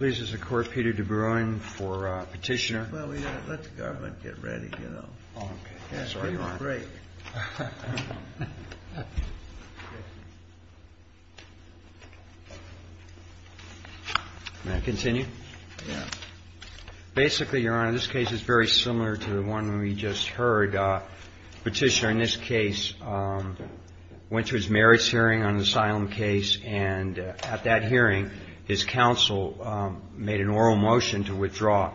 This is the Court, Peter DeBruyne, for Petitioner. This case is very similar to the one we just heard. Petitioner, in this case, went to his merits hearing on the asylum case, and at that hearing, his counsel made an oral motion to withdraw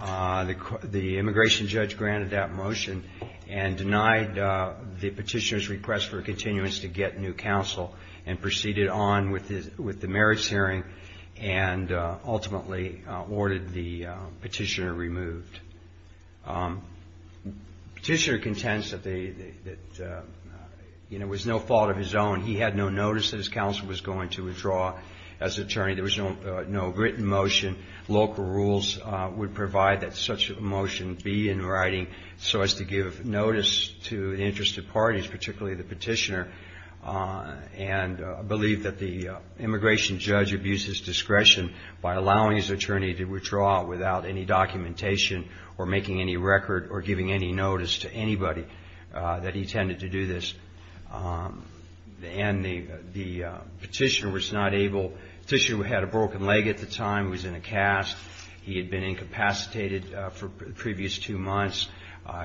the petitioner's petition. The immigration judge granted that motion and denied the petitioner's request for continuance to get new counsel, and proceeded on with the merits hearing, and ultimately ordered the petitioner removed. Petitioner contends that it was no fault of his own. He had no notice that his counsel was going to withdraw as attorney. There was no written motion. Local rules would provide that such a motion be in writing, so as to give notice to the interested parties, particularly the petitioner, and believe that the immigration judge abused his discretion by allowing his attorney to withdraw without any documentation or making any record or giving any notice to anybody that he tended to do this. And the petitioner was not able. Petitioner had a broken leg at the time. He was in a cast. He had been incapacitated for the previous two months.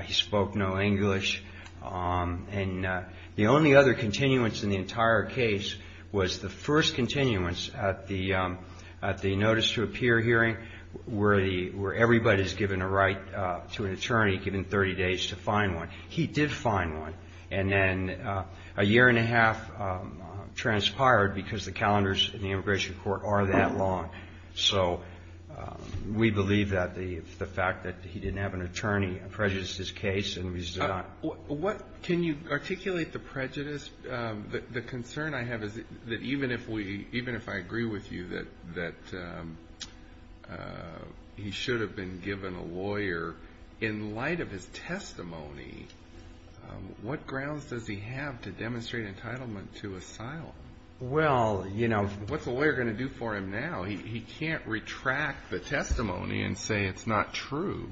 He spoke no English. And the only other continuance in the entire case was the first continuance at the notice to appear hearing, where everybody is given a right to an attorney, given 30 days to find one. He did find one. And then a year and a half transpired because the calendars in the immigration court are that long. So we believe that the fact that he didn't have an attorney prejudiced his case and he's not. What can you articulate the prejudice? The concern I have is that even if we, even if I agree with you that he should have been given a lawyer in light of his testimony what grounds does he have to demonstrate entitlement to asylum? Well, you know. What's a lawyer going to do for him now? He can't retract the testimony and say it's not true.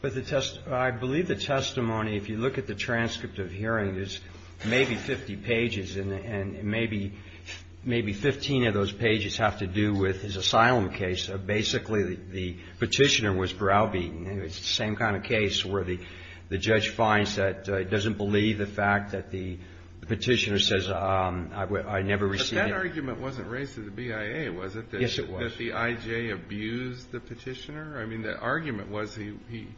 But the test, I believe the testimony, if you look at the transcript of hearing, there's maybe 50 pages and maybe 15 of those pages have to do with his asylum case. Basically the petitioner was browbeaten. It's the same kind of case where the judge finds that he doesn't believe the fact that the petitioner says, I never received it. But that argument wasn't raised to the BIA, was it? Yes, it was. That the IJ abused the petitioner? I mean, the argument was he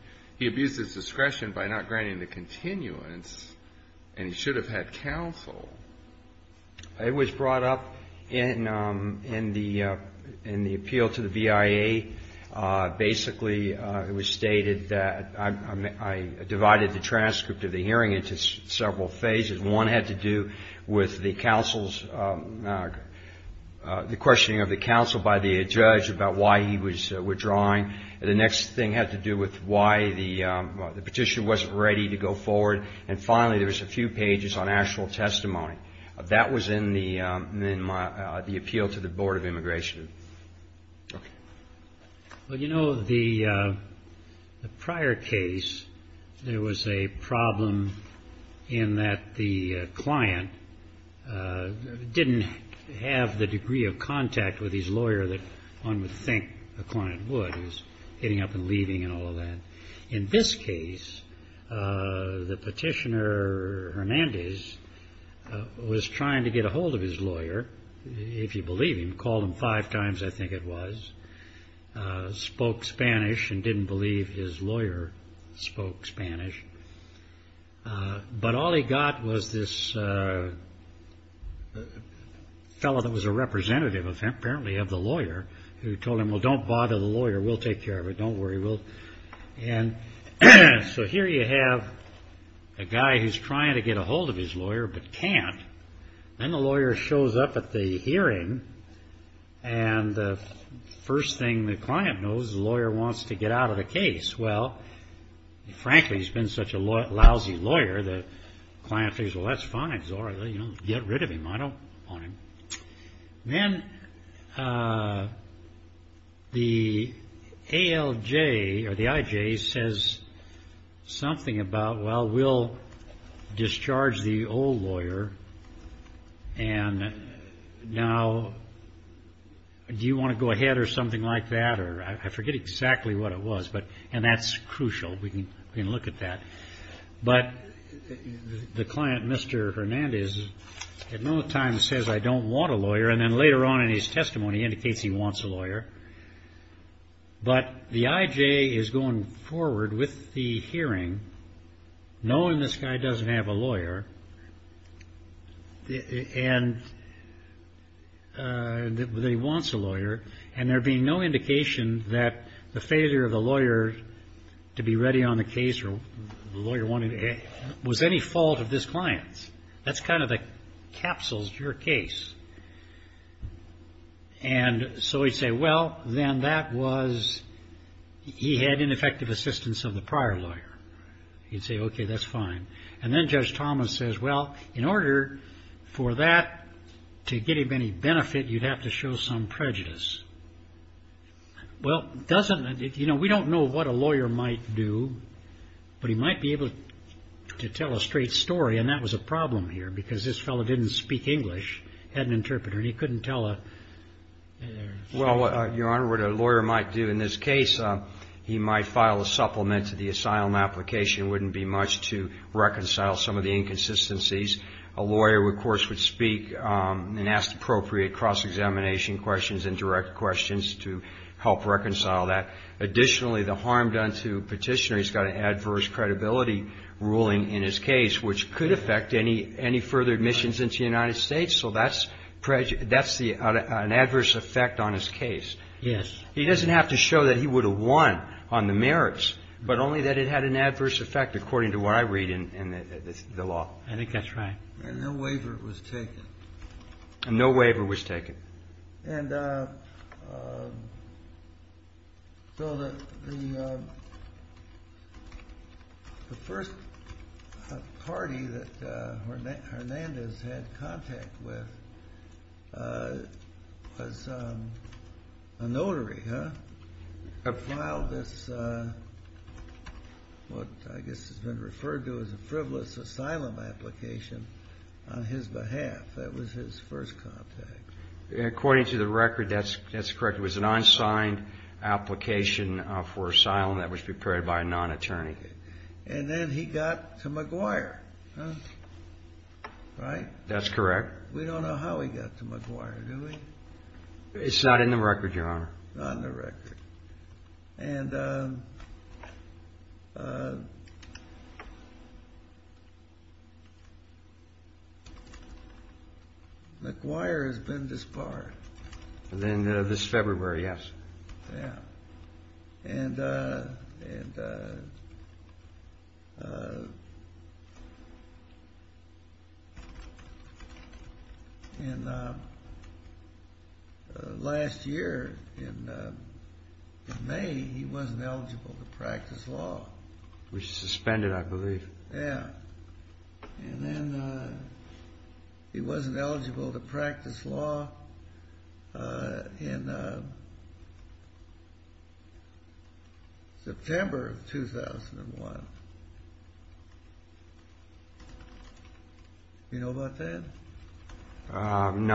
abused his discretion by not granting the continuance and he should have had counsel. It was brought up in the appeal to the BIA. Basically it was stated that I divided the transcript of the hearing into several phases. One had to do with the counsel's, the questioning of the counsel by the judge about why he was withdrawing. The next thing had to do with why the petitioner wasn't ready to go forward. And finally, there was a few pages on actual testimony. That was in the appeal to the Board of Immigration. Well, you know, the prior case, there was a problem in that the client didn't have the degree of contact with his lawyer that one would think a client would. He was hitting up and leaving and all of that. In this case, the petitioner, Hernandez, was trying to get a hold of his lawyer, if you believe him. Called him five times, I think it was. Spoke Spanish and didn't believe his lawyer spoke Spanish. But all he got was this fellow that was a representative of him, apparently of the lawyer, who told him, well, don't bother with the lawyer. We'll take care of it. Don't worry. So here you have a guy who's trying to get a hold of his lawyer but can't. Then the lawyer shows up at the hearing and the first thing the client knows is the lawyer wants to get out of the case. Well, frankly, he's been such a lousy lawyer, the client thinks, well, that's fine. It's all right. Get rid of him. I don't want him. Then the ALJ or the IJ says something about, well, we'll discharge the old lawyer and now do you want to go ahead or something like that? I forget exactly what it was, and that's crucial. We can look at that. But the client, Mr. Hernandez, at no time says I don't want a lawyer, and then later on in his testimony indicates he wants a lawyer. But the IJ is going forward with the hearing knowing this guy doesn't have a lawyer and that he wants a lawyer and there being no indication that the failure of the lawyer to be ready on the case or the lawyer wanted was any fault of this client's. That's kind of the capsules to your case. And so he'd say, well, then that was, he had ineffective assistance of the prior lawyer. He'd say, okay, that's fine. And then Judge Thomas says, well, in order for that to give him any benefit, you'd have to show some prejudice. Well, doesn't, you know, we don't know what a lawyer might do, but he might be able to tell a straight story and that was a problem here because this fellow didn't speak English, had an interpreter, and he couldn't tell a straight story. Well, Your Honor, what a lawyer might do in this case, he might file a supplement to the asylum application. It wouldn't be much to reconcile some of the inconsistencies. A lawyer, of course, would speak and ask appropriate cross-examination questions and direct questions to help reconcile that. Additionally, the harm done to a petitioner has got an adverse credibility ruling in his case, which could affect any further admissions into the United States. So that's an adverse effect on his case. Yes. He doesn't have to show that he would have won on the merits, but only that it had an adverse effect, according to what I read in the law. I think that's right. And no waiver was taken. And no waiver The first party that Hernandez had contact with was a notary, huh? Filed this, what I guess has been referred to as a frivolous asylum application on his behalf. That was his first contact. According to the record, that's correct. It was an unsigned application for asylum that was prepared by a non-attorney. And then he got to McGuire, right? That's correct. We don't know how he got to McGuire, do we? It's not in the record, Your Honor. Not in the record. And McGuire has been disbarred. And then this February, yes. And last year, in May, he wasn't eligible to practice law. He was suspended, I believe. And then he wasn't eligible to practice law in September of 2001. Do you know about that? No,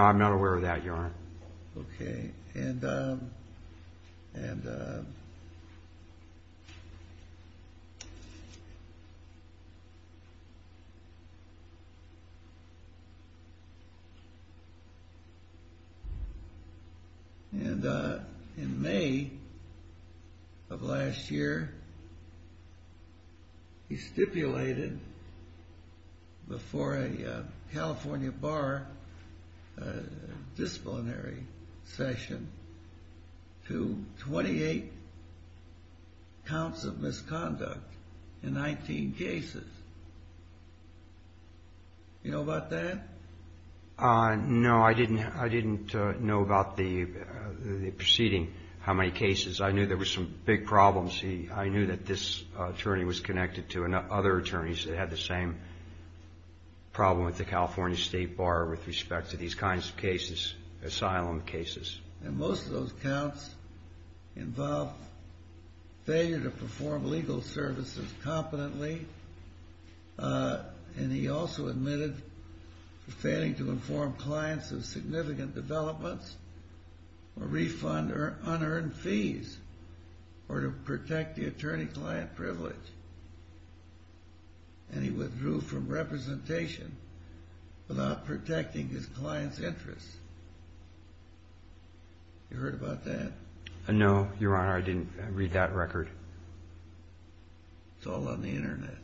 I'm not aware of that, Your Honor. Okay. And in May of last year, he stipulated before a California bar, a disciplinarian, disciplinary session to 28 counts of misconduct in 19 cases. Do you know about that? No, I didn't know about the proceeding, how many cases. I knew there were some big problems. I knew that this attorney was connected to other attorneys that had the same problem with the California State Bar with respect to these kinds of cases, asylum cases. And most of those counts involved failure to perform legal services competently. And he also admitted failing to inform clients of significant developments or refund unearned fees or to protect the attorney-client privilege. And he withdrew from representation without protecting his client's interests. You heard about that? No, Your Honor, I didn't read that record. It's all on the Internet.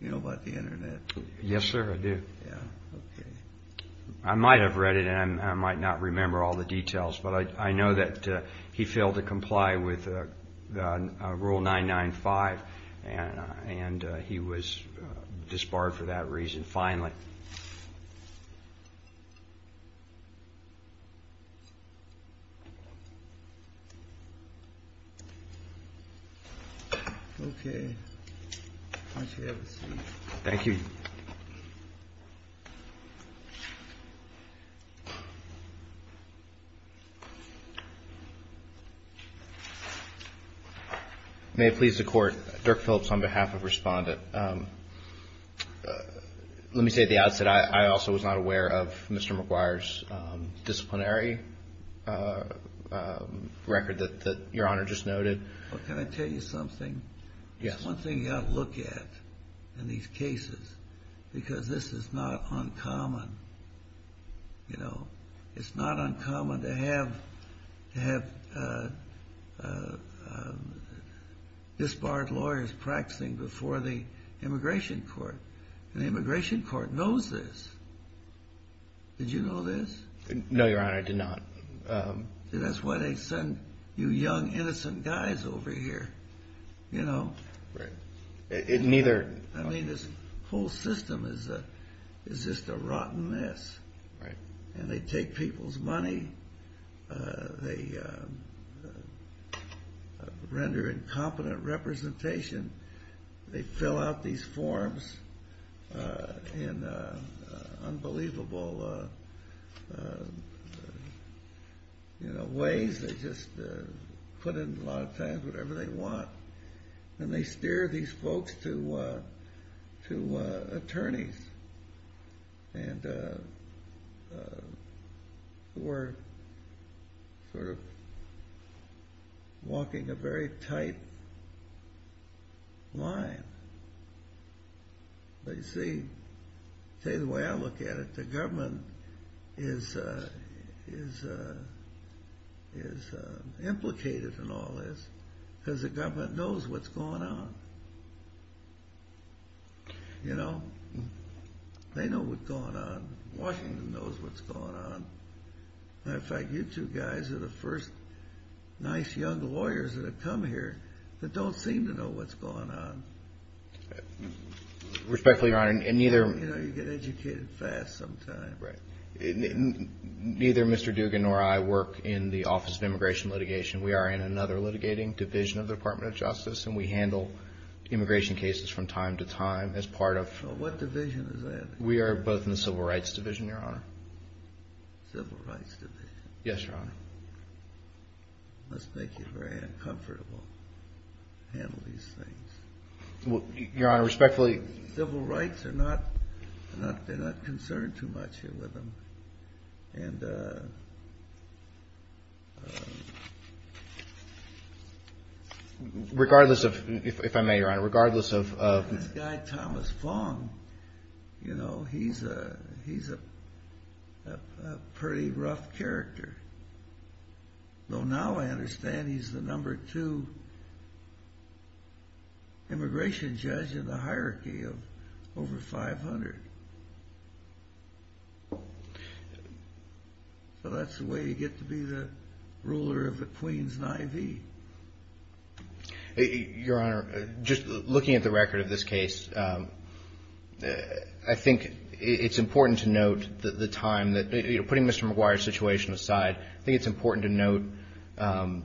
You know about the Internet. Yes, sir, I do. Yeah, okay. I might have read it, and I might not remember all the details, but I know that he failed to comply with Rule 995, and he was disbarred for that reason, finally. Okay. Thank you. May it please the Court, Dirk Phillips on behalf of Respondent. Let me say at the outset, I also was not aware of Mr. McGuire's disciplinary record that Your Honor just noted. Can I tell you something? Yes. There's one thing you've got to look at in these cases, because this is not uncommon. You know, it's not uncommon to have disbarred lawyers practicing before the Immigration Court. And the Immigration Court knows this. Did you know this? No, Your Honor, I did not. See, that's why they send you young, innocent guys over here, you know. Right. It neither... You know, ways, they just put in a lot of time, whatever they want, and they steer these folks to attorneys. And we're sort of walking a very tight line. But you see, tell you the way I look at it, the government is implicated in all this, because the government knows what's going on. You know, they know what's going on. Washington knows what's going on. As a matter of fact, you two guys are the first nice young lawyers that have come here that don't seem to know what's going on. Respectfully, Your Honor, and neither... You know, you get educated fast sometimes. Right. Neither Mr. Dugan nor I work in the Office of Immigration Litigation. We are in another litigating division of the Department of Justice, and we handle immigration cases from time to time as part of... What division is that? Civil rights division. Yes, Your Honor. It must make you very uncomfortable to handle these things. Well, Your Honor, respectfully... Civil rights are not, they're not concerned too much here with them. And... Regardless of, if I may, Your Honor, regardless of... This guy, Thomas Fong, you know, he's a pretty rough character. Though now I understand he's the number two immigration judge in the hierarchy of over 500. So that's the way you get to be the ruler of the Queens and Ivy. Your Honor, just looking at the record of this case, I think it's important to note the time that... Putting Mr. McGuire's situation aside, I think it's important to note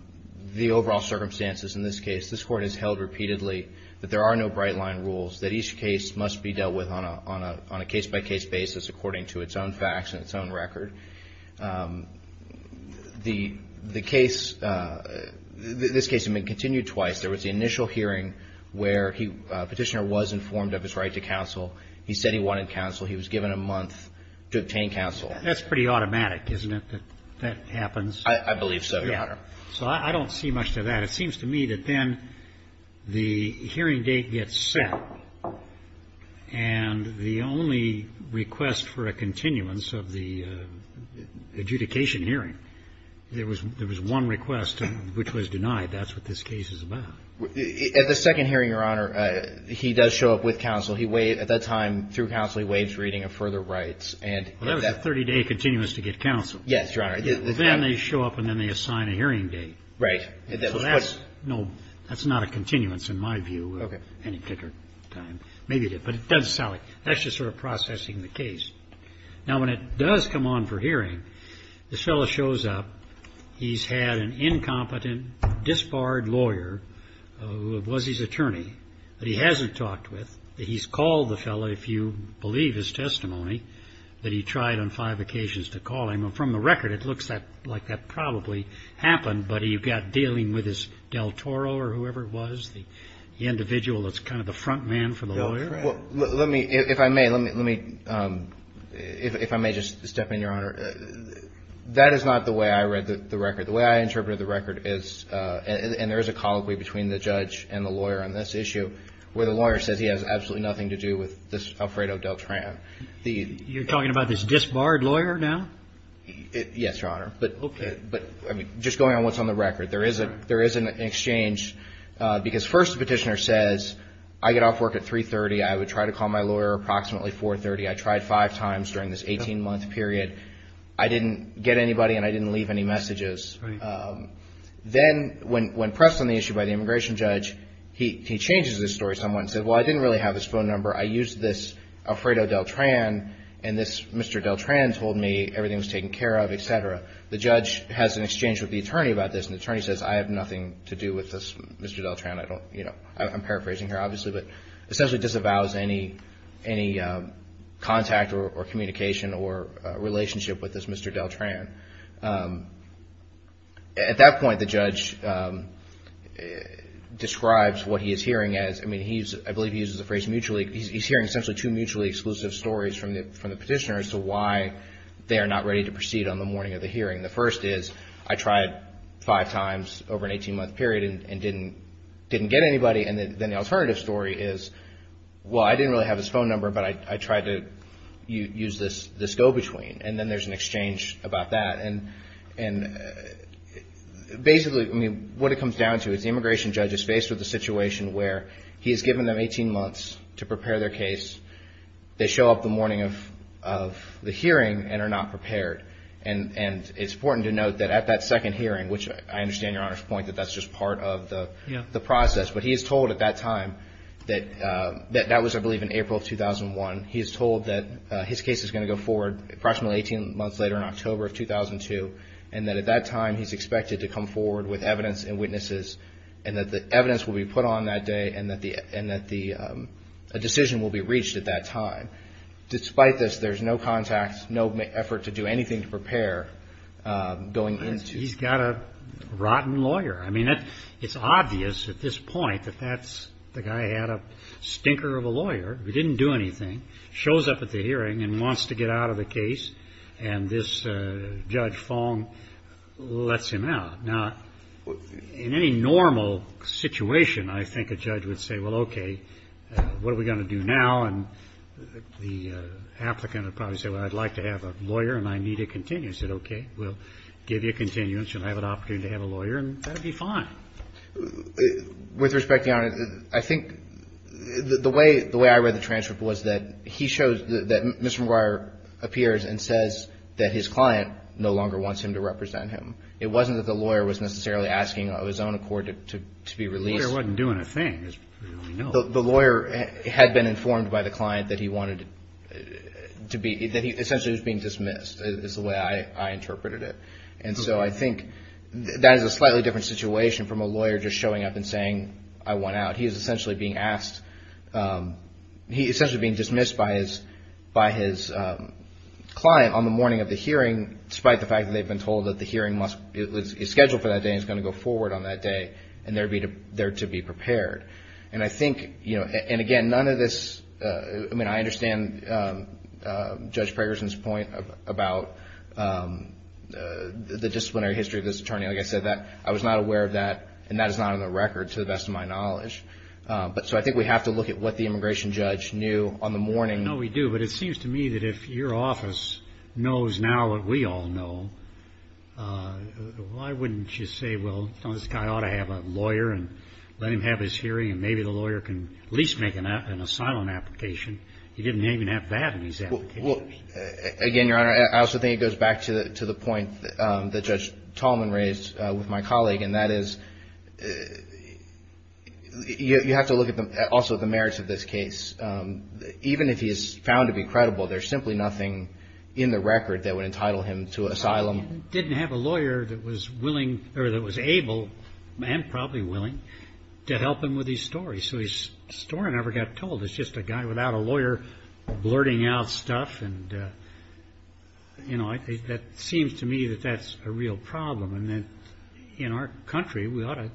the overall circumstances in this case. This Court has held repeatedly that there are no bright-line rules, that each case must be dealt with on a case-by-case basis according to its own facts and its own record. The case, this case had been continued twice. There was the initial hearing where he, Petitioner, was informed of his right to counsel. He said he wanted counsel. He was given a month to obtain counsel. That's pretty automatic, isn't it, that that happens? I believe so, Your Honor. Yeah. So I don't see much to that. But it seems to me that then the hearing date gets set, and the only request for a continuance of the adjudication hearing, there was one request which was denied. That's what this case is about. At the second hearing, Your Honor, he does show up with counsel. He waited. At that time, through counsel, he waived reading of further rights. And that... That was a 30-day continuance to get counsel. Yes, Your Honor. Then they show up, and then they assign a hearing date. Right. So that's, no, that's not a continuance in my view at any particular time. Maybe it is. But it does sound like that's just sort of processing the case. Now, when it does come on for hearing, this fellow shows up. He's had an incompetent disbarred lawyer who was his attorney that he hasn't talked with. He's called the fellow, if you believe his testimony, that he tried on five occasions to call him. From the record, it looks like that probably happened. But you've got dealing with his del Toro or whoever it was, the individual that's kind of the front man for the lawyer? Well, let me, if I may, let me, if I may just step in, Your Honor. That is not the way I read the record. The way I interpreted the record is, and there is a colloquy between the judge and the lawyer on this issue, where the lawyer says he has absolutely nothing to do with this Alfredo Deltran. You're talking about this disbarred lawyer now? Yes, Your Honor. Okay. But just going on what's on the record, there is an exchange because first the petitioner says, I get off work at 3.30. I would try to call my lawyer approximately 4.30. I tried five times during this 18-month period. I didn't get anybody, and I didn't leave any messages. Then when pressed on the issue by the immigration judge, he changes his story somewhat and says, well, I didn't really have his phone number. I used this Alfredo Deltran, and this Mr. Deltran told me everything was taken care of, et cetera. The judge has an exchange with the attorney about this, and the attorney says, I have nothing to do with this Mr. Deltran. I don't, you know, I'm paraphrasing here obviously, but essentially disavows any contact or communication or relationship with this Mr. Deltran. At that point, the judge describes what he is hearing as, I mean, I believe he uses the phrase mutually, he is hearing essentially two mutually exclusive stories from the petitioner as to why they are not ready to proceed on the morning of the hearing. The first is, I tried five times over an 18-month period and didn't get anybody, and then the alternative story is, well, I didn't really have his phone number, but I tried to use this go-between, and then there is an exchange about that. And basically, I mean, what it comes down to is the immigration judge is faced with a situation where he has given them 18 months to prepare their case. They show up the morning of the hearing and are not prepared. And it's important to note that at that second hearing, which I understand Your Honor's point that that's just part of the process, but he is told at that time that that was, I believe, in April of 2001. He is told that his case is going to go forward approximately 18 months later in October of 2002 and that at that time he is expected to come forward with evidence and witnesses and that the evidence will be put on that day and that a decision will be reached at that time. Despite this, there is no contact, no effort to do anything to prepare going into. He's got a rotten lawyer. I mean, it's obvious at this point that that's, the guy had a stinker of a lawyer. He didn't do anything. Shows up at the hearing and wants to get out of the case. And this Judge Fong lets him out. Now, in any normal situation, I think a judge would say, well, okay, what are we going to do now? And the applicant would probably say, well, I'd like to have a lawyer and I need a continuance. He said, okay, we'll give you a continuance. You'll have an opportunity to have a lawyer and that will be fine. With respect, Your Honor, I think the way I read the transcript was that he shows that Mr. McGuire appears and says that his client no longer wants him to represent him. It wasn't that the lawyer was necessarily asking of his own accord to be released. The lawyer wasn't doing a thing. The lawyer had been informed by the client that he wanted to be, that he essentially was being dismissed, is the way I interpreted it. And so I think that is a slightly different situation from a lawyer just showing up and saying, I want out. He is essentially being asked, he is essentially being dismissed by his client on the morning of the hearing, despite the fact that they've been told that the hearing is scheduled for that day and is going to go forward on that day and they're to be prepared. And I think, you know, and again, none of this, I mean, I understand Judge Pragerson's point about the disciplinary history of this attorney. Like I said, I was not aware of that and that is not on the record to the best of my knowledge. But so I think we have to look at what the immigration judge knew on the morning. I know we do, but it seems to me that if your office knows now what we all know, why wouldn't you say, well, this guy ought to have a lawyer and let him have his hearing and maybe the lawyer can at least make an asylum application. He didn't even have that in his application. Again, Your Honor, I also think it goes back to the point that Judge Tallman raised with my colleague, and that is you have to look at also the merits of this case. Even if he is found to be credible, there's simply nothing in the record that would entitle him to asylum. He didn't have a lawyer that was willing or that was able and probably willing to help him with his story. So his story never got told. It's just a guy without a lawyer blurting out stuff. And, you know, that seems to me that that's a real problem. And in our country, we ought to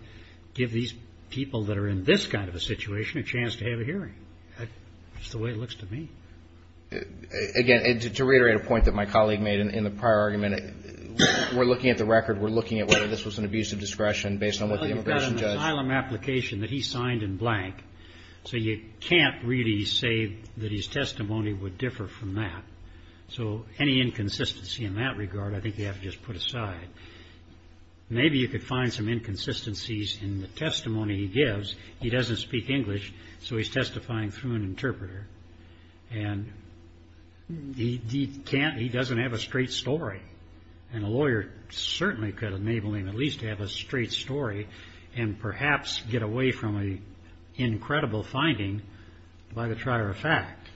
give these people that are in this kind of a situation a chance to have a hearing. That's the way it looks to me. Again, to reiterate a point that my colleague made in the prior argument, we're looking at the record. We're looking at whether this was an abuse of discretion based on what the immigration judge. Well, you've got an asylum application that he signed in blank, so you can't really say that his testimony would differ from that. So any inconsistency in that regard I think you have to just put aside. He doesn't speak English, so he's testifying through an interpreter. And he can't, he doesn't have a straight story. And a lawyer certainly could enable him at least to have a straight story and perhaps get away from an incredible finding by the trier of fact.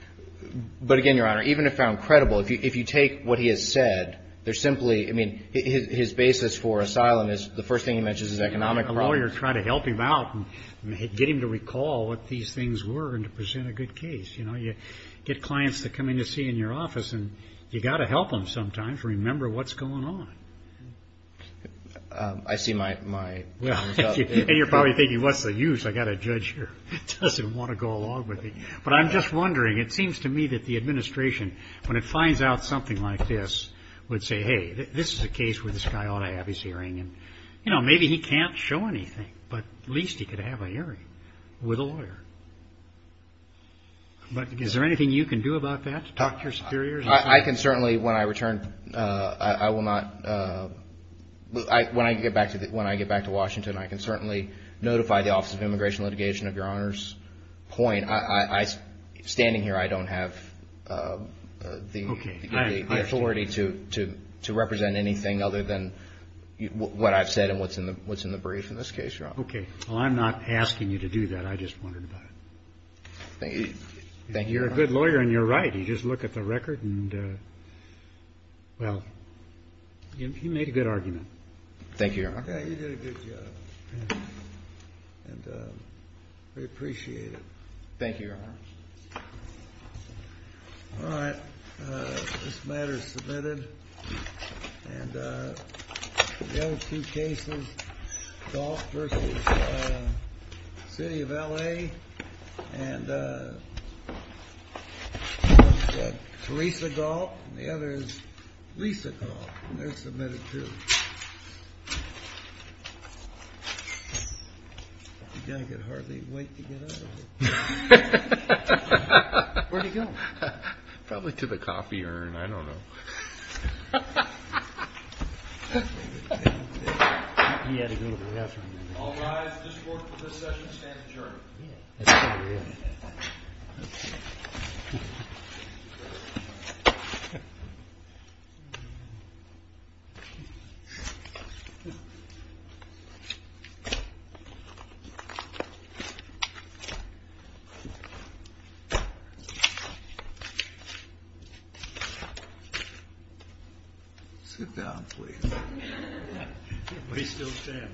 But again, Your Honor, even if found credible, if you take what he has said, there's simply, I mean, his basis for asylum is the first thing he mentions is economic problems. You have to have a lawyer try to help him out and get him to recall what these things were and to present a good case, you know. You get clients that come in to see you in your office, and you've got to help them sometimes to remember what's going on. I see my result there. And you're probably thinking, what's the use? I've got a judge here who doesn't want to go along with me. But I'm just wondering, it seems to me that the administration, when it finds out something like this, would say, hey, this is a case where this guy ought to have his hearing. And, you know, maybe he can't show anything, but at least he could have a hearing with a lawyer. But is there anything you can do about that to talk to your superiors? I can certainly, when I return, I will not, when I get back to Washington, I can certainly notify the Office of Immigration and Litigation of Your Honor's point. I mean, standing here, I don't have the authority to represent anything other than what I've said and what's in the brief in this case, Your Honor. Okay. Well, I'm not asking you to do that. I just wondered about it. Thank you. Thank you, Your Honor. You're a good lawyer, and you're right. You just look at the record and, well, you made a good argument. Thank you, Your Honor. Yeah, you did a good job. And we appreciate it. Thank you, Your Honor. All right. This matter is submitted. And the other two cases, Galt v. City of L.A., and one's got Theresa Galt, and the other is Lisa Galt. And they're submitted, too. You're going to hardly wait to get out of here. Where are you going? Probably to the coffee urn. I don't know. He had to go to the bathroom. All rise. This court for this session stands adjourned. Sit down, please. We still stand. Thank you. Thank you.